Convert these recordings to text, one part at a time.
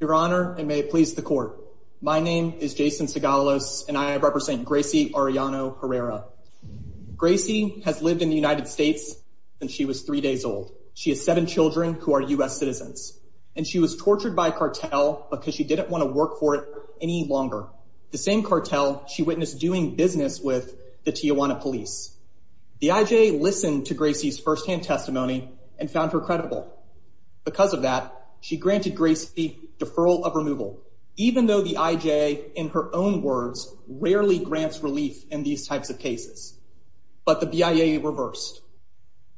Your Honor, and may it please the court, my name is Jason Segalos and I represent Gracie Arellano Herrera. Gracie has lived in the United States since she was three days old. She has seven children who are U.S. citizens, and she was tortured by a cartel because she didn't want to work for it any longer. The same cartel she witnessed doing business with the Tijuana police. The IJ listened to Gracie's firsthand testimony and found her credible. Because of that, she granted Gracie deferral of removal, even though the IJ, in her own words, rarely grants relief in these types of cases. But the BIA reversed.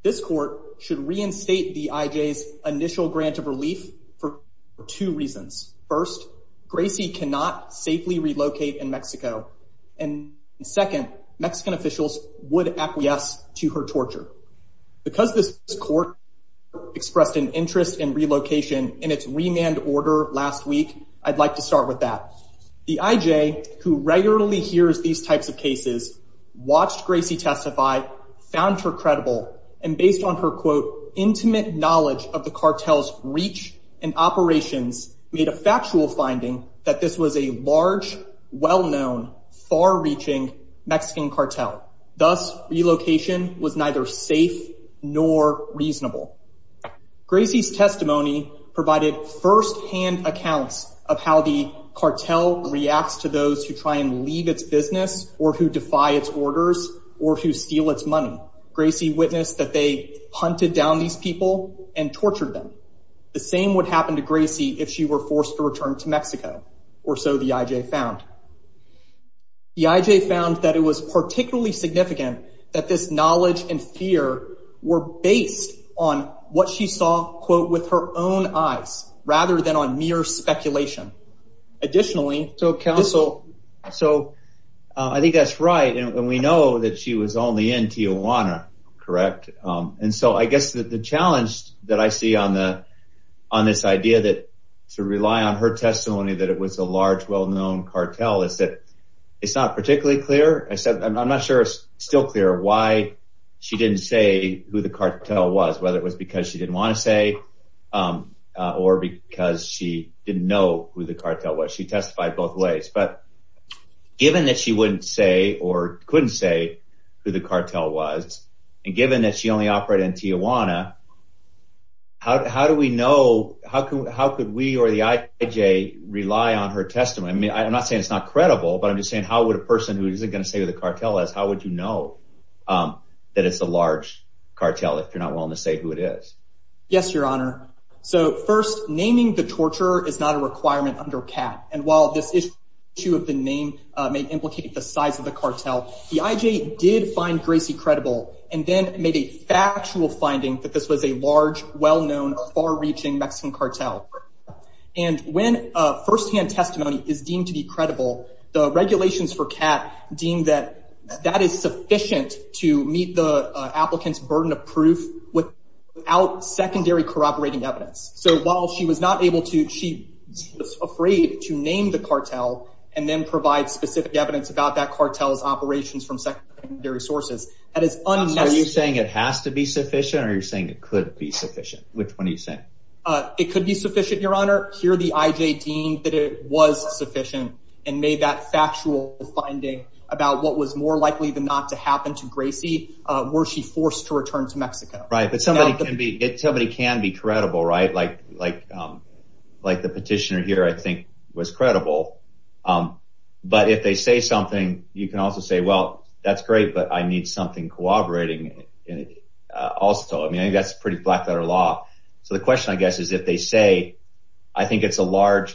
This court should reinstate the IJ's initial grant of relief for two reasons. First, Gracie cannot safely relocate in Mexico. And second, Mexican officials would acquiesce to her torture. Because this court expressed an interest in relocation in its remand order last week, I'd like to start with that. The IJ, who regularly hears these types of cases, watched Gracie testify, found her credible, and based on her, quote, intimate knowledge of the cartel's reach and operations, made a factual finding that this was a large, well-known, far-reaching Mexican cartel. Thus, relocation was neither safe nor reasonable. Gracie's testimony provided firsthand accounts of how the cartel reacts to those who try and leave its business or who defy its orders or who steal its money. Gracie witnessed that they hunted down these people and tortured them. The same would happen to Gracie if she were to leave. The IJ found that it was particularly significant that this knowledge and fear were based on what she saw, quote, with her own eyes rather than on mere speculation. Additionally, I think that's right. And we know that she was only in Tijuana, correct? And so I guess that the challenge that I see on this idea to rely on her testimony that it was a large, well-known cartel is that it's not particularly clear. I'm not sure it's still clear why she didn't say who the cartel was, whether it was because she didn't want to say or because she didn't know who the cartel was. She testified both ways. But given that she wouldn't say or couldn't say who the cartel was, and given that she only operated in Tijuana, how do we know, how could we or the IJ rely on her testimony? I mean, I'm not saying it's not credible, but I'm just saying how would a person who isn't going to say who the cartel is, how would you know that it's a large cartel if you're not willing to say who it is? Yes, your honor. So first, naming the torturer is not a requirement under CAT. And while this issue of the name may implicate the size of the cartel, the IJ did find Gracie credible and then made a factual finding that this was a large, well-known, far-reaching Mexican cartel. And when a first-hand testimony is deemed to be credible, the regulations for CAT deem that that is sufficient to meet the applicant's burden of proof without secondary corroborating evidence. So while she was not able to, she was afraid to name the cartel and then provide specific evidence about that cartel's operations from secondary sources. That is unnecessary. So are you saying it has to be sufficient or are you saying it could be sufficient? Which one are you saying? It could be sufficient, your honor. Here, the IJ deemed that it was sufficient and made that factual finding about what was more likely than not to happen to Gracie were she forced to return to Mexico. Right, but somebody can be credible, right? Like the petitioner here, I think, was credible. But if they say something, you can also say, well, that's great, but I need something corroborating also. I mean, that's pretty blackletter law. So the question, I guess, is if they say, I think it's a large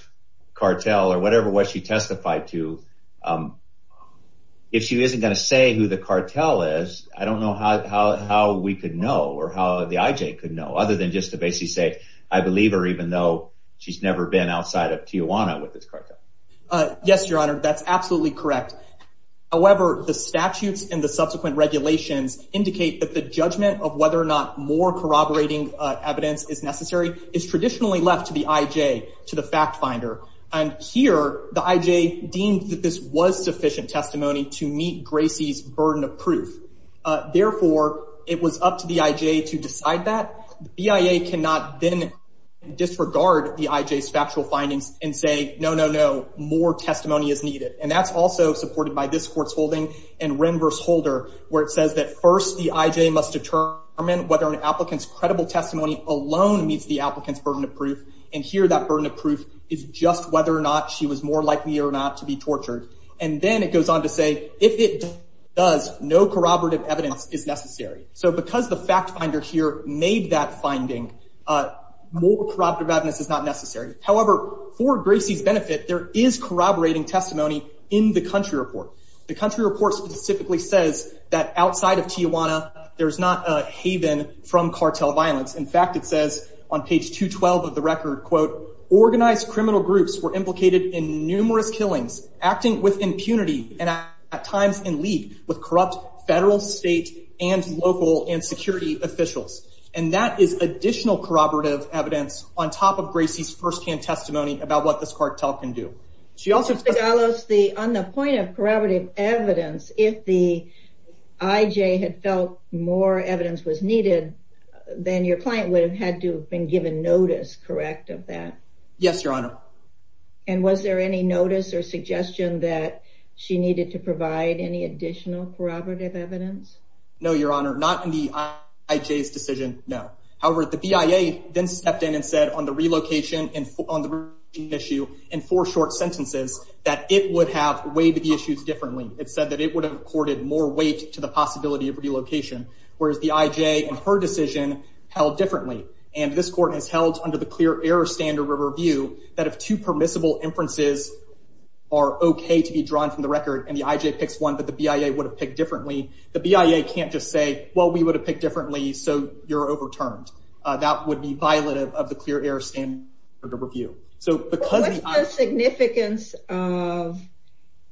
cartel or whatever what she testified to, if she isn't going to say who the cartel is, I don't know how we could know or how the IJ could know other than just to basically say, I believe her even though she's never been outside of Tijuana with this cartel. Yes, your honor, that's absolutely correct. However, the statutes and the subsequent regulations indicate that the judgment of whether or not more corroborating evidence is necessary is traditionally left to the IJ, to the fact finder. And here, the IJ deemed that this was sufficient testimony to meet Gracie's burden of proof. Therefore, it was up to the IJ to decide that. BIA cannot then disregard the IJ's factual findings and say, no, no, no, more testimony is necessary. First, the IJ must determine whether an applicant's credible testimony alone meets the applicant's burden of proof. And here, that burden of proof is just whether or not she was more likely or not to be tortured. And then it goes on to say, if it does, no corroborative evidence is necessary. So because the fact finder here made that finding, more corroborative evidence is not necessary. However, for Gracie's benefit, there is corroborating testimony in the country report. The country report specifically says that outside of Tijuana, there's not a haven from cartel violence. In fact, it says on page 212 of the record, quote, organized criminal groups were implicated in numerous killings, acting with impunity, and at times in league with corrupt federal, state, and local and security officials. And that is additional corroborative evidence on top of Gracie's firsthand testimony about what this cartel can do. She also- Mr. Gallo, on the point of corroborative evidence, if the IJ had felt more evidence was needed, then your client would have had to have been given notice, correct, of that? Yes, Your Honor. And was there any notice or suggestion that she needed to provide any additional corroborative evidence? No, Your Honor, not in the IJ's decision, no. However, the BIA then stepped in and said on the relocation and issue in four short sentences that it would have weighed the issues differently. It said that it would have accorded more weight to the possibility of relocation, whereas the IJ in her decision held differently. And this court has held under the clear error standard of review that if two permissible inferences are okay to be drawn from the record and the IJ picks one that the BIA would have picked differently, the BIA can't just say, well, we would have picked differently, so you're What's the significance of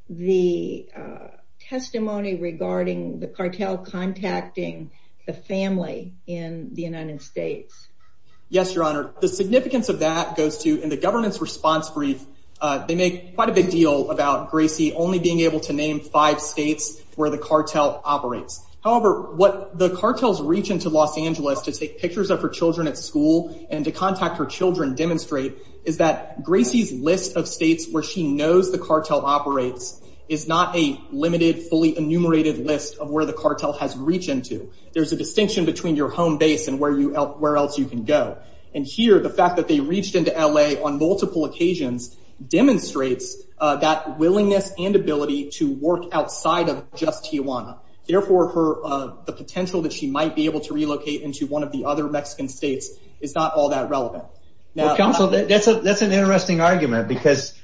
the testimony regarding the cartel contacting the family in the United States? Yes, Your Honor. The significance of that goes to, in the government's response brief, they make quite a big deal about Gracie only being able to name five states where the cartel operates. However, what the cartels reach into Los Angeles to take pictures of her demonstrate is that Gracie's list of states where she knows the cartel operates is not a limited, fully enumerated list of where the cartel has reached into. There's a distinction between your home base and where else you can go. And here, the fact that they reached into LA on multiple occasions demonstrates that willingness and ability to work outside of just Tijuana. Therefore, the potential that she might be able to relocate into one of the other Mexican states is not all that relevant. Counsel, that's an interesting argument because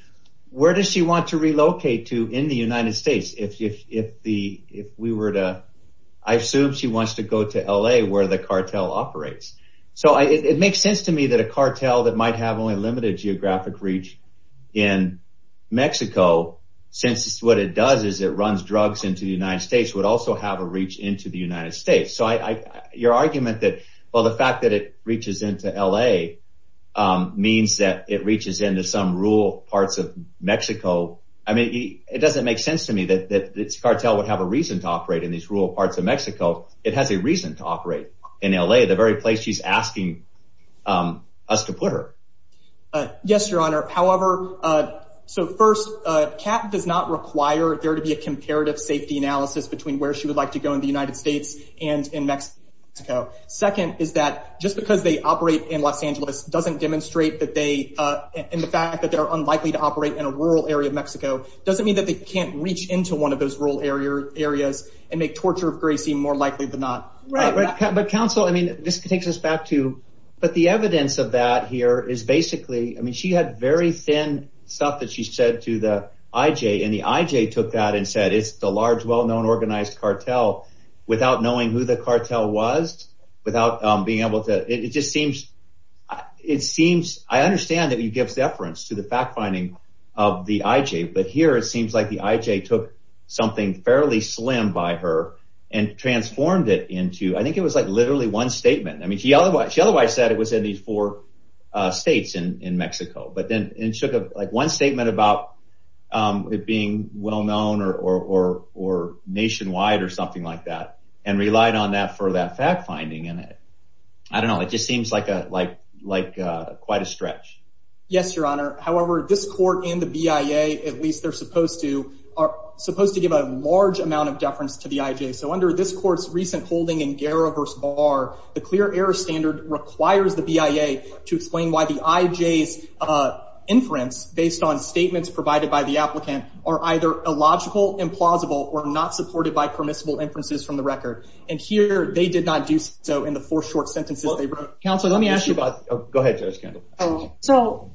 where does she want to relocate to in the United States if we were to, I assume she wants to go to LA where the cartel operates. So it makes sense to me that a cartel that might have only limited geographic reach in Mexico, since what it does is it runs drugs into the United States, would also have reach into the United States. So your argument that the fact that it reaches into LA means that it reaches into some rural parts of Mexico, it doesn't make sense to me that this cartel would have a reason to operate in these rural parts of Mexico. It has a reason to operate in LA, the very place she's asking us to put her. Yes, Your Honor. However, so first, does not require there to be a comparative safety analysis between where she would like to go in the United States and in Mexico. Second, is that just because they operate in Los Angeles doesn't demonstrate that they, in the fact that they're unlikely to operate in a rural area of Mexico, doesn't mean that they can't reach into one of those rural areas and make torture of Gracie more likely than not. Right. But counsel, I mean, this takes us back to, but the evidence of that here is basically, I mean, she had very thin stuff that she said to the IJ and the IJ took that and said, it's the large, well-known organized cartel without knowing who the cartel was, without being able to, it just seems, it seems, I understand that you give deference to the fact finding of the IJ, but here it seems like the IJ took something fairly slim by her and transformed it into, I think it was like literally one statement. I mean, she otherwise said it was in four states in Mexico, but then it took like one statement about it being well-known or nationwide or something like that and relied on that for that fact finding. And I don't know, it just seems like quite a stretch. Yes, your honor. However, this court and the BIA, at least they're supposed to, are supposed to give a large amount of deference to the IJ. So under this court's recent holding in Garra versus Barr, the clear error standard requires the BIA to explain why the IJ's inference based on statements provided by the applicant are either illogical, implausible, or not supported by permissible inferences from the record. And here they did not do so in the four short sentences they wrote. Counselor, let me ask you about... Go ahead, Judge Kendall. So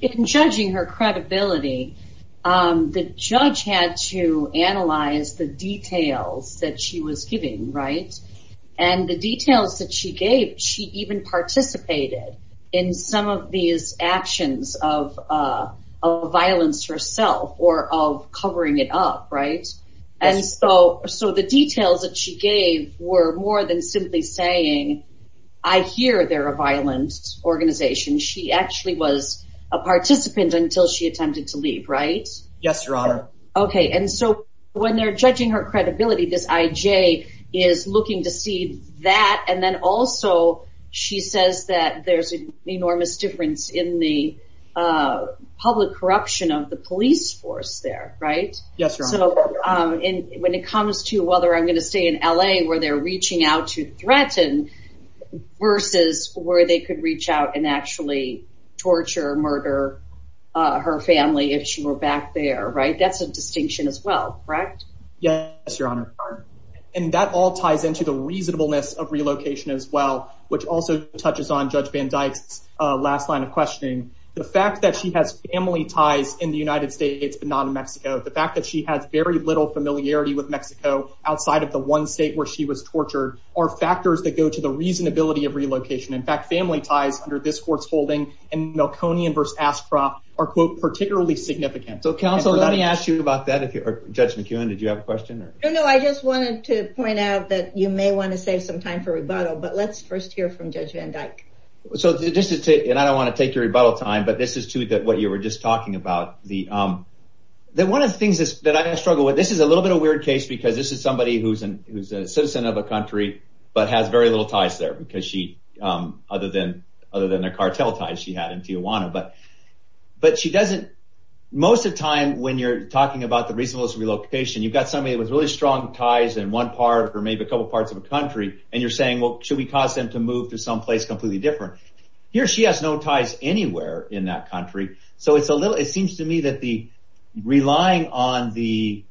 in judging her credibility, the judge had to analyze the right? And the details that she gave, she even participated in some of these actions of violence herself or of covering it up, right? And so the details that she gave were more than simply saying, I hear they're a violent organization. She actually was a participant until she attempted to leave, right? Yes, your honor. Okay. And so when they're judging her is looking to see that. And then also she says that there's an enormous difference in the public corruption of the police force there, right? Yes, your honor. So when it comes to whether I'm going to stay in LA where they're reaching out to threaten versus where they could reach out and actually torture, murder her family if she were back there, right? That's a distinction as well, correct? Yes, your honor. And that all ties into the reasonableness of relocation as well, which also touches on Judge Van Dyke's last line of questioning. The fact that she has family ties in the United States, but not in Mexico. The fact that she has very little familiarity with Mexico outside of the one state where she was tortured are factors that go to the reasonability of relocation. In fact, family ties under this court's holding and Melkonian versus Ascra are quote, particularly significant. So counsel, let me ask you about that. Judge McEwen, did you have a question? No, I just wanted to point out that you may want to save some time for rebuttal, but let's first hear from Judge Van Dyke. And I don't want to take your rebuttal time, but this is to what you were just talking about. One of the things that I struggle with, this is a little bit of a weird case because this is somebody who's a citizen of a country, but has very little ties there other than the cartel ties she had in Tijuana. But most of the time when you're talking about the reasonableness of relocation, you've got somebody with really strong ties in one part or maybe a couple parts of a country, and you're saying, well, should we cause them to move to someplace completely different? Here she has no ties anywhere in that country. So it seems to me that relying on the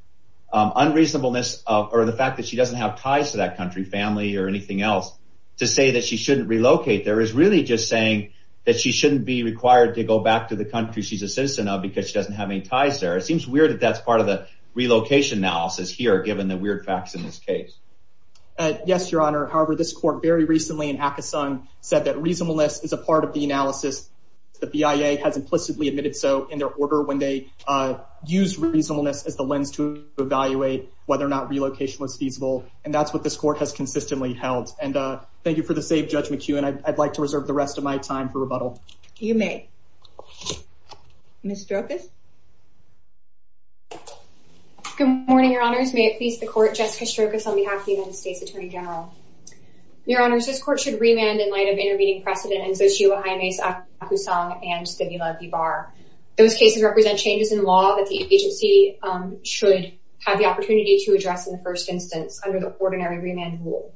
unreasonableness or the fact that she doesn't have ties to that country, family or anything else, to say that she shouldn't relocate there is really just saying that she shouldn't be required to go back to the country she's a citizen of because she doesn't have any ties there. It seems weird that that's part of the relocation analysis here, given the weird facts in this case. Yes, Your Honor. However, this court very recently in Akison said that reasonableness is a part of the analysis. The BIA has implicitly admitted so in their order when they used reasonableness as the lens to evaluate whether or not relocation was feasible. And that's what this court has consistently held. And thank you for the save, Judge McEwen. I'd like to reserve the rest of my time for rebuttal. You may. Ms. Strokis? Good morning, Your Honors. May it please the court, Jessica Strokis on behalf of the United States Attorney General. Your Honors, this court should remand in light of intervening precedent in Xochitl Jaime's Akusong and Stimula v. Barr. Those cases represent changes in law that the agency should have the opportunity to address in the first instance under the ordinary remand rule.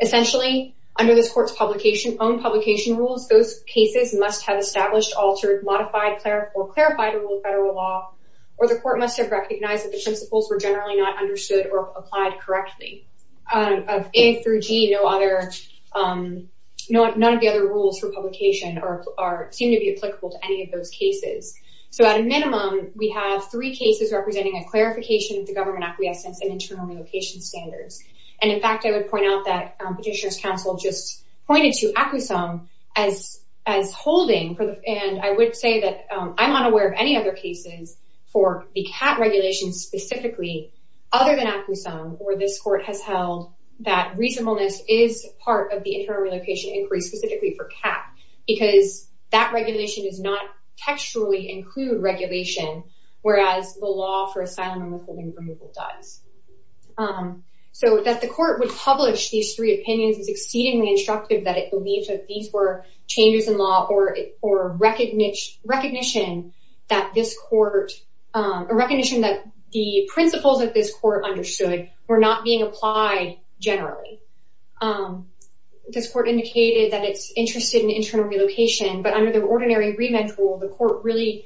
Essentially, under this court's own publication rules, those cases must have established, altered, modified, or clarified a rule of federal law, or the court must have recognized that the principles were generally not understood or applied correctly. Of A through G, none of the other rules for publication seem to be applicable to any of those cases. So at a minimum, we have three cases representing a clarification of the government acquiescence and internal relocation standards. And in fact, I would point out that Petitioner's Counsel just pointed to Akusong as holding. And I would say that I'm unaware of any other cases for the CAT regulation specifically other than Akusong where this court has held that reasonableness is part of the internal relocation inquiry specifically for CAT because that regulation does not textually include regulation, whereas the law for asylum and withholding removal does. So that the court would publish these three opinions is exceedingly instructive that it believes that these were changes in law or recognition that the principles of this court understood were not being applied generally. This court indicated that it's interested in internal relocation, but under the ordinary remand rule, the court really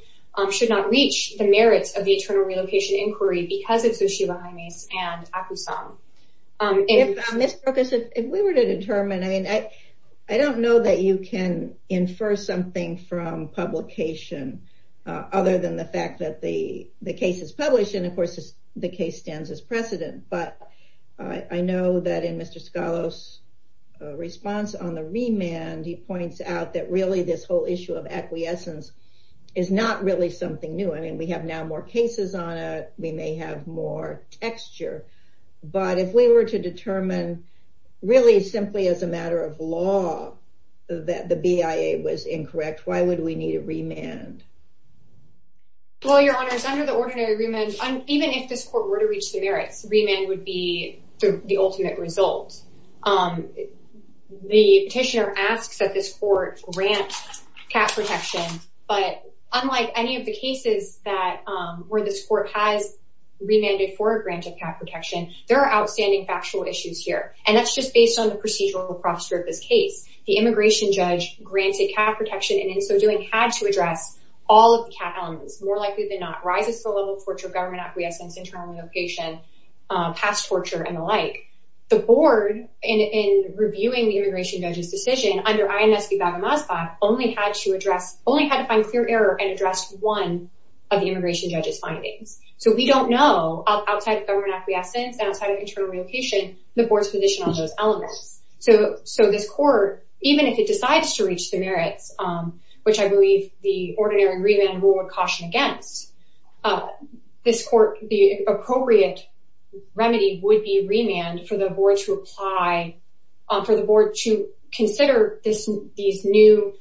should not reach the merits of the internal relocation inquiry because of Xuxibahimes and Akusong. Ms. Brooks, if we were to determine, I mean, I don't know that you can infer something from publication other than the fact that the case is published. And of course, the case stands as precedent. But I know that in Mr. Scalos' response on the remand, he points out that really this whole issue of acquiescence is not really something new. I mean, we have now more cases on it. We may have more texture. But if we were to determine really simply as a matter of law that the BIA was incorrect, why would we need a remand? Well, Your Honors, under the ordinary remand, even if this court were to reach the merits, remand would be the ultimate result. The petitioner asks that this court grant cat protection. But unlike any of the cases where this court has remanded for a grant of cat protection, there are outstanding factual issues here. And that's just based on the procedural prospect of this case. The immigration judge granted cat protection and in so doing had to address all of the cat elements. More likely than not, rises to the level of torture of government acquiescence internal relocation, past torture and the like. The board in reviewing the immigration judge's decision under INSB Baghamasbah only had to address, only had to find clear error and address one of the immigration judge's findings. So we don't know outside of government acquiescence outside of internal relocation, the board's position on those elements. So this court, even if it decides to reach the merits, which I believe the ordinary remand rule would caution against, this court, the appropriate remedy would be remand for the board to apply, for the board to consider these new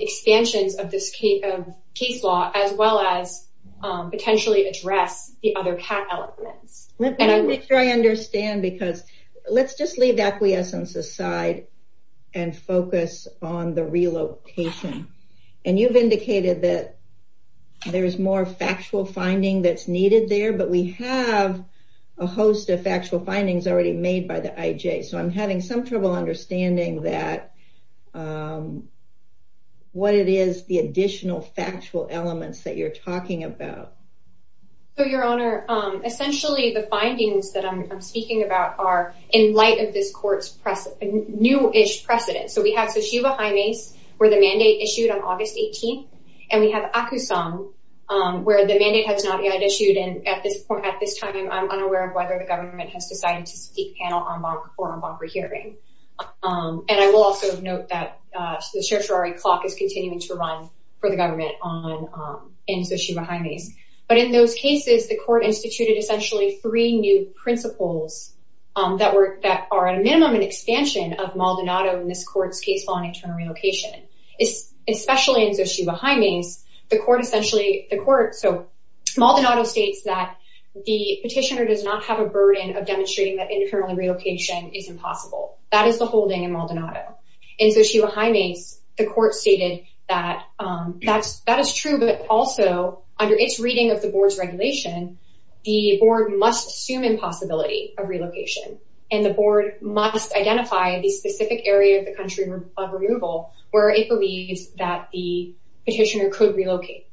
expansions of this case law, as well as potentially address the other cat elements. Let me make sure I understand because let's just leave acquiescence aside and focus on the relocation. And you've indicated that there's more factual finding that's needed there, but we have a host of factual findings already made by the IJ. So I'm having some trouble understanding that, what it is, the additional factual elements that you're talking about. So your honor, essentially the findings that I'm speaking about are in light of this court's new-ish precedent. So we have Tsushima Haimes, where the mandate issued on August 18th, and we have Akusong, where the mandate has not yet issued, and at this point, at this time, I'm unaware of whether the government has decided to speak panel on bond for bond for hearing. And I will also note that the certiorari clock is continuing to run for the government on Tsushima Haimes. But in those cases, the court instituted essentially three new principles that were, that are a minimum and expansion of Maldonado in this court's case on internal relocation. Especially in Tsushima Haimes, the court essentially, the court, so Maldonado states that the petitioner does not have a burden of demonstrating that internal relocation is impossible. That is the holding in Maldonado. In Tsushima Haimes, the court stated that that's, that is true, but also under its reading of the board's regulation, the board must assume impossibility of relocation, and the board must identify the specific area of the country of removal where it believes that the petitioner could relocate.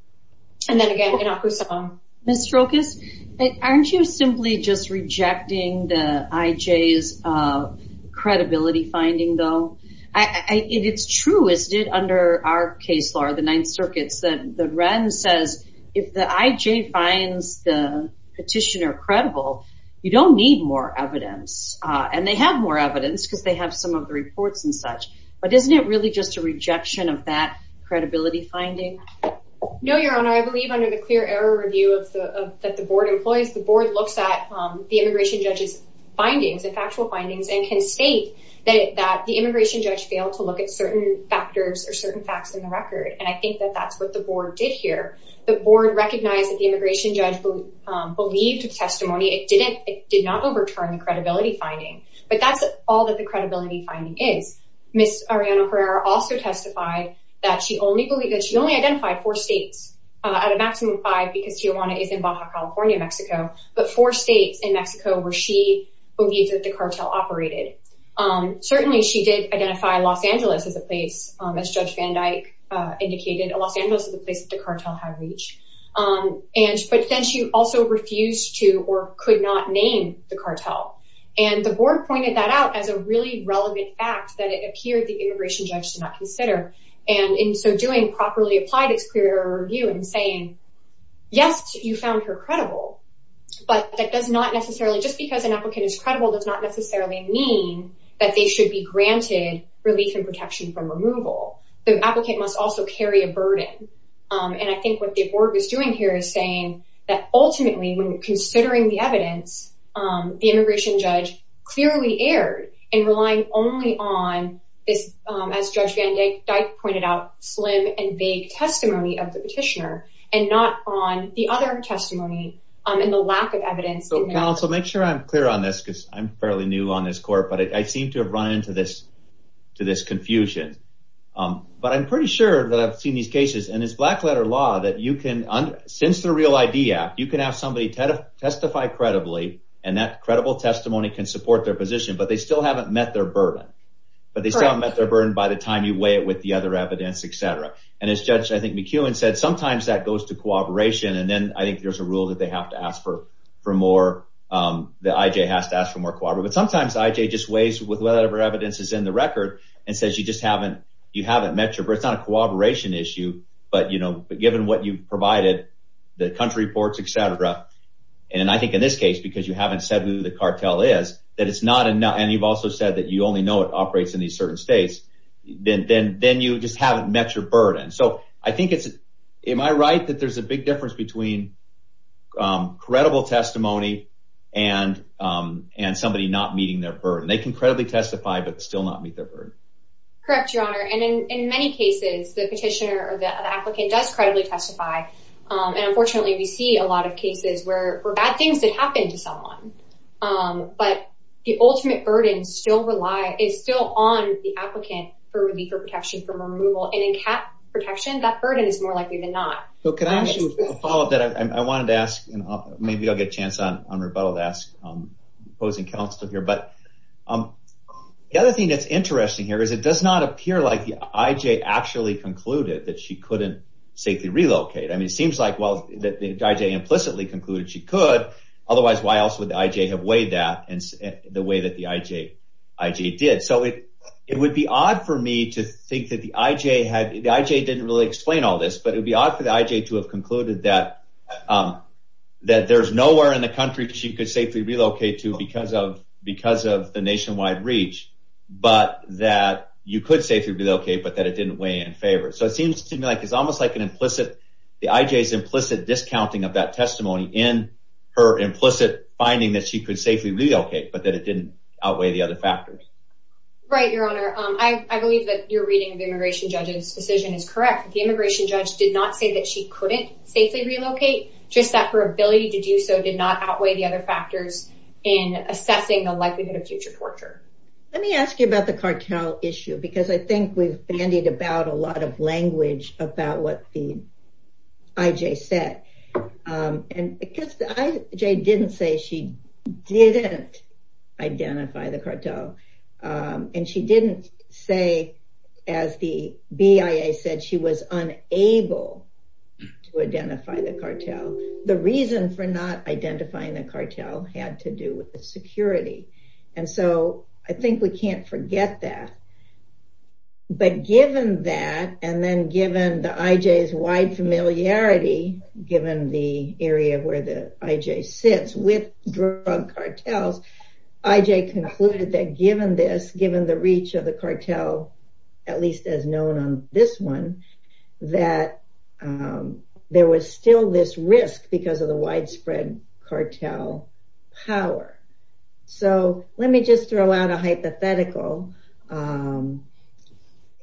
And then again, in Akusong. Ms. Strokis, aren't you simply just rejecting the IJ's credibility finding, though? It's true, isn't it, under our case law, the Ninth Circuit, that the Wren says if the IJ finds the petitioner credible, you don't need more evidence, and they have more evidence because they have some of the reports and such, but isn't it really just a rejection of that credibility finding? No, Your Honor, I believe under the clear error review of the, that the board employs, the board looks at the immigration judge's findings, the factual findings, and can state that the immigration judge failed to look at certain factors or certain facts in the record, and I think that that's what the board did here. The board recognized that the immigration judge believed the testimony, it did not overturn the credibility finding, but that's all that the credibility finding is. Ms. Arellano-Herrera also testified that she only identified four states, out of a maximum of five, because Tijuana is in Baja California, Mexico, but four states in Mexico where she believes that the cartel operated. Certainly she did identify Los Angeles as a place, as Judge Van Dyke indicated, Los Angeles is a place that the cartel had reached, and, but then she also refused to or could not name the cartel, and the board pointed that out as a really relevant fact that it appeared the immigration judge did not consider, and in so doing properly applied its clear error review in saying, yes, you found her credible, but that does not necessarily, just because an applicant is credible does not necessarily mean that they should be granted relief and protection from removal. The applicant must also carry a burden, and I think what the board was doing here is saying that ultimately, when considering the evidence, the immigration judge clearly erred in relying only on this, as Judge Van Dyke pointed out, slim and vague testimony of the petitioner, and not on the other testimony, and the lack of evidence. So counsel, make sure I'm clear on this, because I'm fairly new on this court, but I seem to have run into this confusion, but I'm pretty sure that I've seen these cases, and it's black letter law that you can, since the Real ID Act, you can have somebody testify credibly, and that credible testimony can support their position, but they still haven't met their burden, but they still haven't met their burden by the time you weigh it with the other evidence, et cetera, and as Judge, I think McKeown said, sometimes that goes to cooperation, and then I think there's a rule that they have to ask for more, that IJ has to ask for more cooperation, but sometimes IJ just says a lot of evidence is in the record, and says you just haven't met your, it's not a cooperation issue, but you know, given what you've provided, the country reports, et cetera, and I think in this case, because you haven't said who the cartel is, that it's not enough, and you've also said that you only know it operates in these certain states, then you just haven't met your burden, so I think it's, am I right that there's a big difference between credible testimony and somebody not meeting their burden? They can credibly testify, but still not meet their burden. Correct, Your Honor, and in many cases, the petitioner or the applicant does credibly testify, and unfortunately, we see a lot of cases where bad things did happen to someone, but the ultimate burden still rely, is still on the applicant for reliever protection from removal, and in cat protection, that burden is more likely than not. So can I ask you, I wanted to ask, maybe I'll get a chance on rebuttal to ask opposing counsel here, but the other thing that's interesting here, is it does not appear like the IJ actually concluded that she couldn't safely relocate. I mean, it seems like, well, that the IJ implicitly concluded she could, otherwise why else would the IJ have weighed that, and the way that the IJ did? So it would be odd for me to think that the IJ had, the IJ didn't really explain all this, but it would be odd for the IJ to have concluded that there's nowhere in the country she could safely relocate to because of the nationwide reach, but that you could safely relocate, but that it didn't weigh in favor. So it seems to me like it's almost like an implicit, the IJ's implicit discounting of that testimony in her implicit finding that she could safely relocate, but that it didn't outweigh the other factors. Right, Your Honor, I believe that your reading of the immigration judge's decision is correct. The immigration judge did not say that she couldn't safely relocate, just that her ability to do so did not outweigh the other factors in assessing the likelihood of future torture. Let me ask you about the cartel issue, because I think we've bandied about a lot of language about what the IJ said, and because the IJ didn't say she didn't identify the cartel, and she didn't say, as the BIA said, she was unable to identify the cartel. The reason for not identifying the cartel had to do with the security, and so I think we can't forget that. But given that, and then given the IJ's wide familiarity, given the area where the IJ sits with drug cartels, IJ concluded that given this, given the reach of the cartel, at least as known on this one, that there was still this risk because of the widespread cartel power. So, let me just throw out a hypothetical.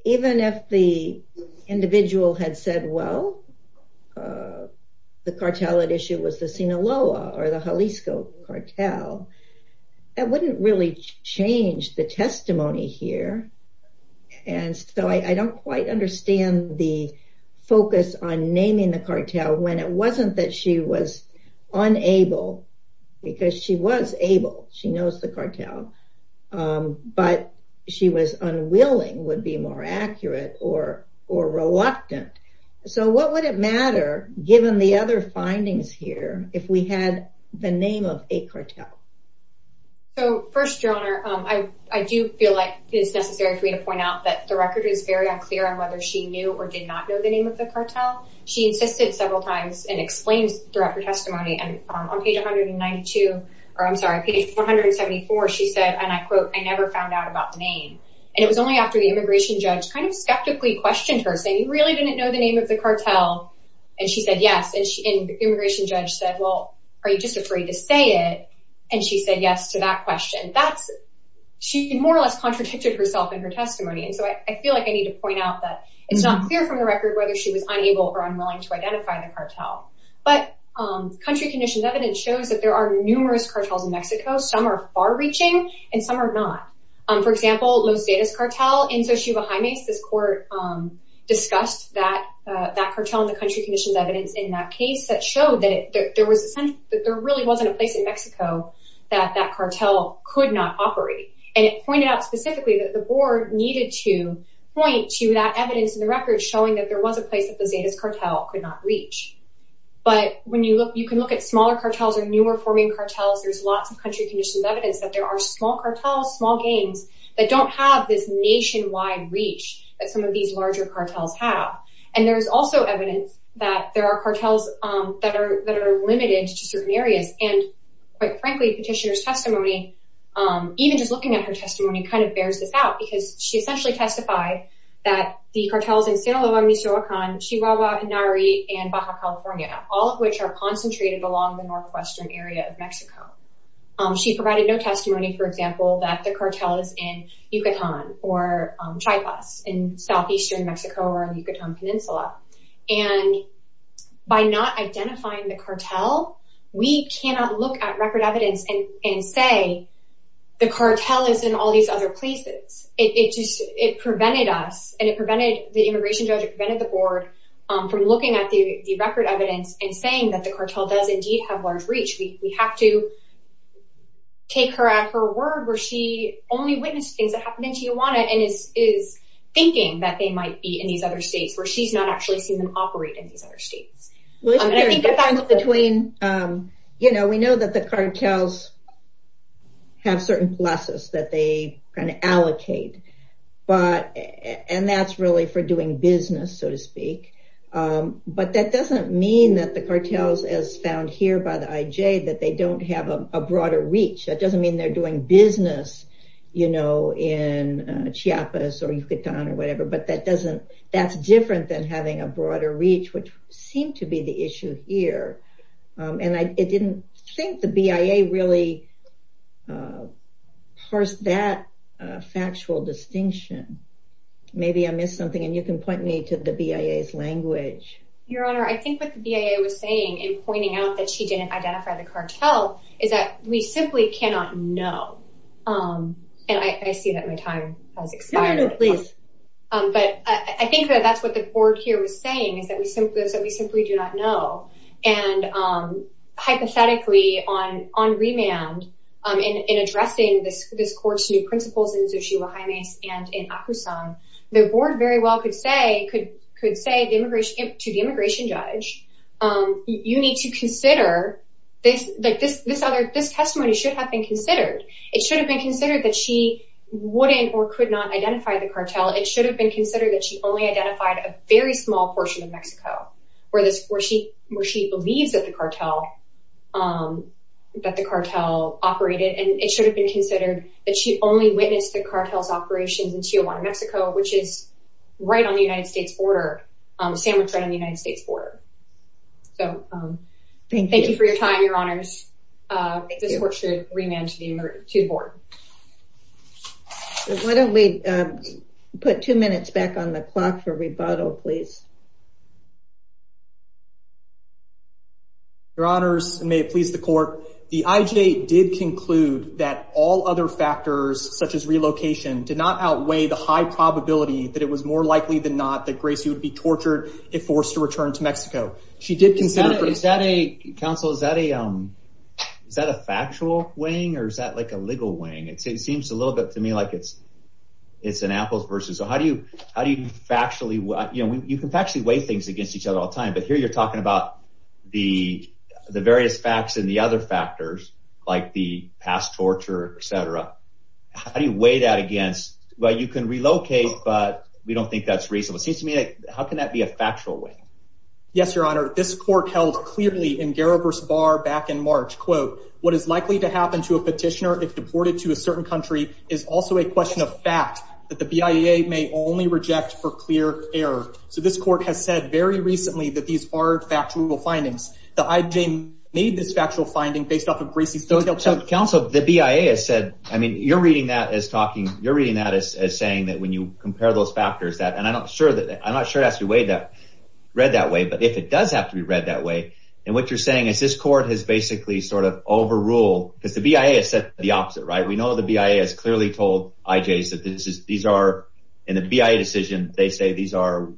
Even if the individual had said, well, the cartel at issue was the Sinaloa or the Jalisco cartel, that wouldn't really change the testimony here, and so I don't quite understand the focus on naming the cartel when it wasn't that she was unable, because she was able, she knows the cartel, but she was unwilling would be more accurate or reluctant. So, what would it matter, given the other findings here, if we had the name of a cartel? So, first, your honor, I do feel like it's necessary for me to point out that the record is very unclear on whether she knew or did not know the name of the cartel. She insisted several times and explains throughout her testimony, and on page 192, or I'm sorry, page 174, she said, and I quote, I never found out about the name, and it was only after the immigration judge kind of skeptically questioned her, saying you really didn't know the name of the cartel, and she said yes, and the immigration judge said, well, are you just afraid to say it, and she said yes to that question. She more or less contradicted herself in her testimony, and so I feel like I need to point out that it's not clear from the record whether she was unable or unwilling to identify the cartel, but country conditions evidence shows that there are numerous cartels in Mexico. Some are far-reaching, and some are not. For example, Los Zetas cartel in Xochitl, this court discussed that cartel in the country conditions evidence in that case that showed that there really wasn't a place in Mexico that that cartel could not operate, and it pointed out specifically that the board needed to point to that evidence in the record showing that there was a place that the Zetas cartel could not reach, but when you look, you can look at smaller cartels or newer forming cartels, there's lots of country conditions evidence that there are small cartels, small gangs that don't have this nationwide reach that some of these larger cartels have, and there's also evidence that there are cartels that are that are limited to certain areas, and quite frankly, Petitioner's testimony, even just looking at her testimony, kind of bears this out because she essentially testified that the cartels in Sinaloa, Michoacan, Chihuahua, Henare, and Baja California, all of which are concentrated along the northwestern area of Mexico. She provided no testimony, for example, that the cartel is in Yucatan or Chiapas in southeastern Mexico or Yucatan Peninsula, and by not identifying the cartel, we cannot look at record evidence and say the cartel is in all these other places. It just, it prevented us, and it prevented the immigration judge, it prevented the board from looking at the record evidence and saying that the cartel does indeed have large reach. We have to take her at her word where she only witnessed things that happened in Chihuahua and is thinking that they might be in these other states where she's not actually seen them operate in these other states. And I think that's between, you know, we know that cartels have certain pluses that they kind of allocate, but, and that's really for doing business, so to speak. But that doesn't mean that the cartels, as found here by the IJ, that they don't have a broader reach. That doesn't mean they're doing business, you know, in Chiapas or Yucatan or whatever, but that doesn't, that's different than having a broader reach, which seemed to be the issue here. And I didn't think the BIA really parsed that factual distinction. Maybe I missed something, and you can point me to the BIA's language. Your Honor, I think what the BIA was saying in pointing out that she didn't identify the cartel is that we simply cannot know. And I see that my time has expired. No, no, please. But I think that that's what the Board here was saying, is that we simply do not know. And hypothetically, on remand, in addressing this Court's new principles in Xuxi, Jua Jimenez, and in Akusang, the Board very well could say to the immigration judge, you need to consider, like, this testimony should have been considered. It should have been considered that she only identified a very small portion of Mexico where she believes that the cartel operated. And it should have been considered that she only witnessed the cartel's operations in Chihuahua, Mexico, which is right on the United States border, sandwiched right on the United States border. So, thank you for your time, Your Honors. This Court should remand to report. Why don't we put two minutes back on the clock for rebuttal, please? Your Honors, and may it please the Court, the IJ did conclude that all other factors, such as relocation, did not outweigh the high probability that it was more likely than not that Gracie would be tortured if forced to return to Mexico. She did consider... Counsel, is that a factual weighing, or is that, like, a legal weighing? It seems a little bit to me like it's an apples versus... So, how do you factually... You know, you can factually weigh things against each other all the time, but here you're talking about the various facts and the other factors, like the past torture, et cetera. How do you weigh that against... Well, you can relocate, but we don't think that's reasonable. It seems to me like, how can that be a factual weighing? Yes, Your Honor, this Court held clearly in Gariber's Bar back in March, quote, what is likely to happen to a petitioner if deported to a certain country is also a question of fact that the BIA may only reject for clear error. So, this Court has said very recently that these are factual findings. The IJ made this factual finding based off of Gracie's... Counsel, the BIA has said... I mean, you're reading that as talking... You're reading that as saying that you compare those factors that... And I'm not sure it has to be read that way, but if it does have to be read that way... And what you're saying is this Court has basically sort of overruled... Because the BIA has said the opposite, right? We know the BIA has clearly told IJs that these are... In the BIA decision, they say these are...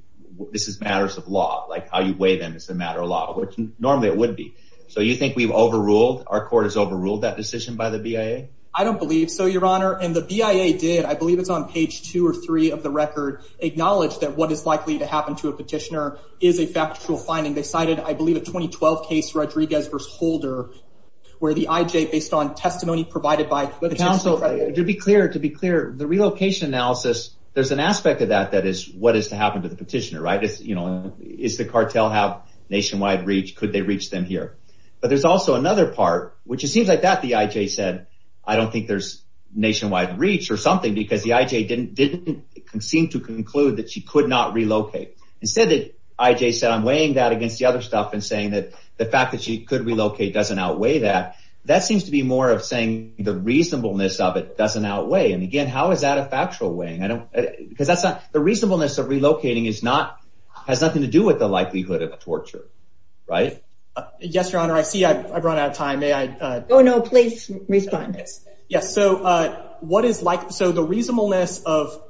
This is matters of law, like how you weigh them is a matter of law, which normally it would be. So, you think we've overruled... Our Court has overruled that decision by the BIA? I don't believe so, Your Honor. And the BIA did. I believe it's on of the record acknowledged that what is likely to happen to a petitioner is a factual finding. They cited, I believe, a 2012 case, Rodriguez v. Holder, where the IJ, based on testimony provided by... Counsel, to be clear, the relocation analysis, there's an aspect of that that is what is to happen to the petitioner, right? Is the cartel have nationwide reach? Could they reach them here? But there's also another part, which it seems like that the IJ said, I don't think there's nationwide reach or something, because the IJ didn't seem to conclude that she could not relocate. Instead, the IJ said, I'm weighing that against the other stuff and saying that the fact that she could relocate doesn't outweigh that. That seems to be more of saying the reasonableness of it doesn't outweigh. And again, how is that a factual weighing? I don't... Because that's not... The reasonableness of relocating is not... Has nothing to do with the likelihood of torture, right? Yes, Your Honor. I see I've run out of time. May I... Oh no, please respond. Yes. So what is like... So the reasonableness of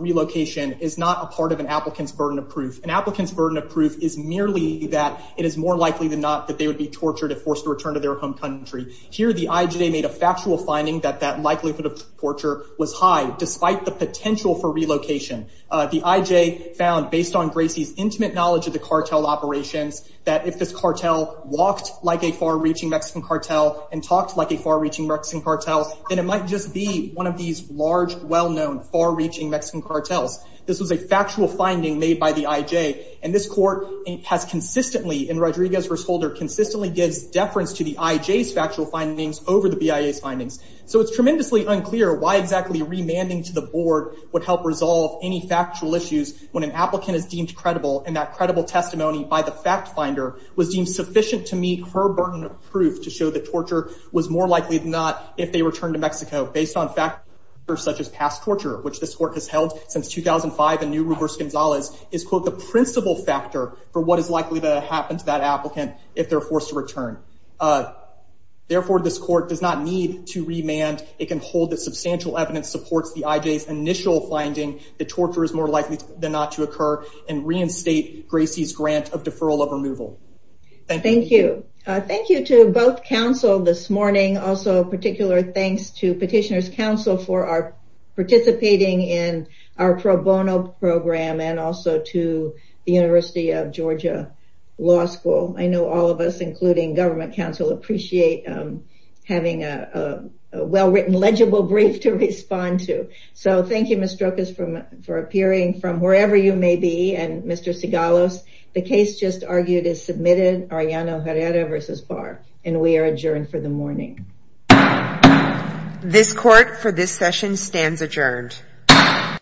relocation is not a part of an applicant's burden of proof. An applicant's burden of proof is merely that it is more likely than not that they would be tortured if forced to return to their home country. Here, the IJ made a factual finding that that likelihood of torture was high, despite the potential for relocation. The IJ found, based on Gracie's intimate knowledge of the cartel operations, that if this cartel walked like a far-reaching Mexican cartel and talked like a far-reaching Mexican cartel, then it might just be one of these large, well-known, far-reaching Mexican cartels. This was a factual finding made by the IJ, and this court has consistently, in Rodriguez v. Holder, consistently gives deference to the IJ's factual findings over the BIA's findings. So it's tremendously unclear why exactly remanding to the board would help resolve any factual issues when an applicant is deemed credible, and that credible testimony by the fact-finder was deemed sufficient to meet her burden of proof to show that torture was more likely than not if they returned to Mexico. Based on factors such as past torture, which this court has held since 2005 in New Rivers-Gonzalez, is, quote, the principal factor for what is likely to happen to that applicant if they're forced to return. Therefore, this court does not need to remand. It can hold that substantial evidence supports the IJ's initial finding that torture is more likely than not to occur and reinstate Gracie's grant of deferral of removal. Thank you. Thank you to both counsel this morning. Also, a particular thanks to Petitioner's Counsel for participating in our pro bono program and also to the University of Georgia Law School. I know all of us, including government counsel, appreciate having a well-written legible brief to respond to. So thank you, Ms. Strokas, for appearing from wherever you may be. And Mr. Sigalos, the case just argued is submitted, Ariano Herrera v. Barr, and we are adjourned for the morning. This court for this session stands adjourned.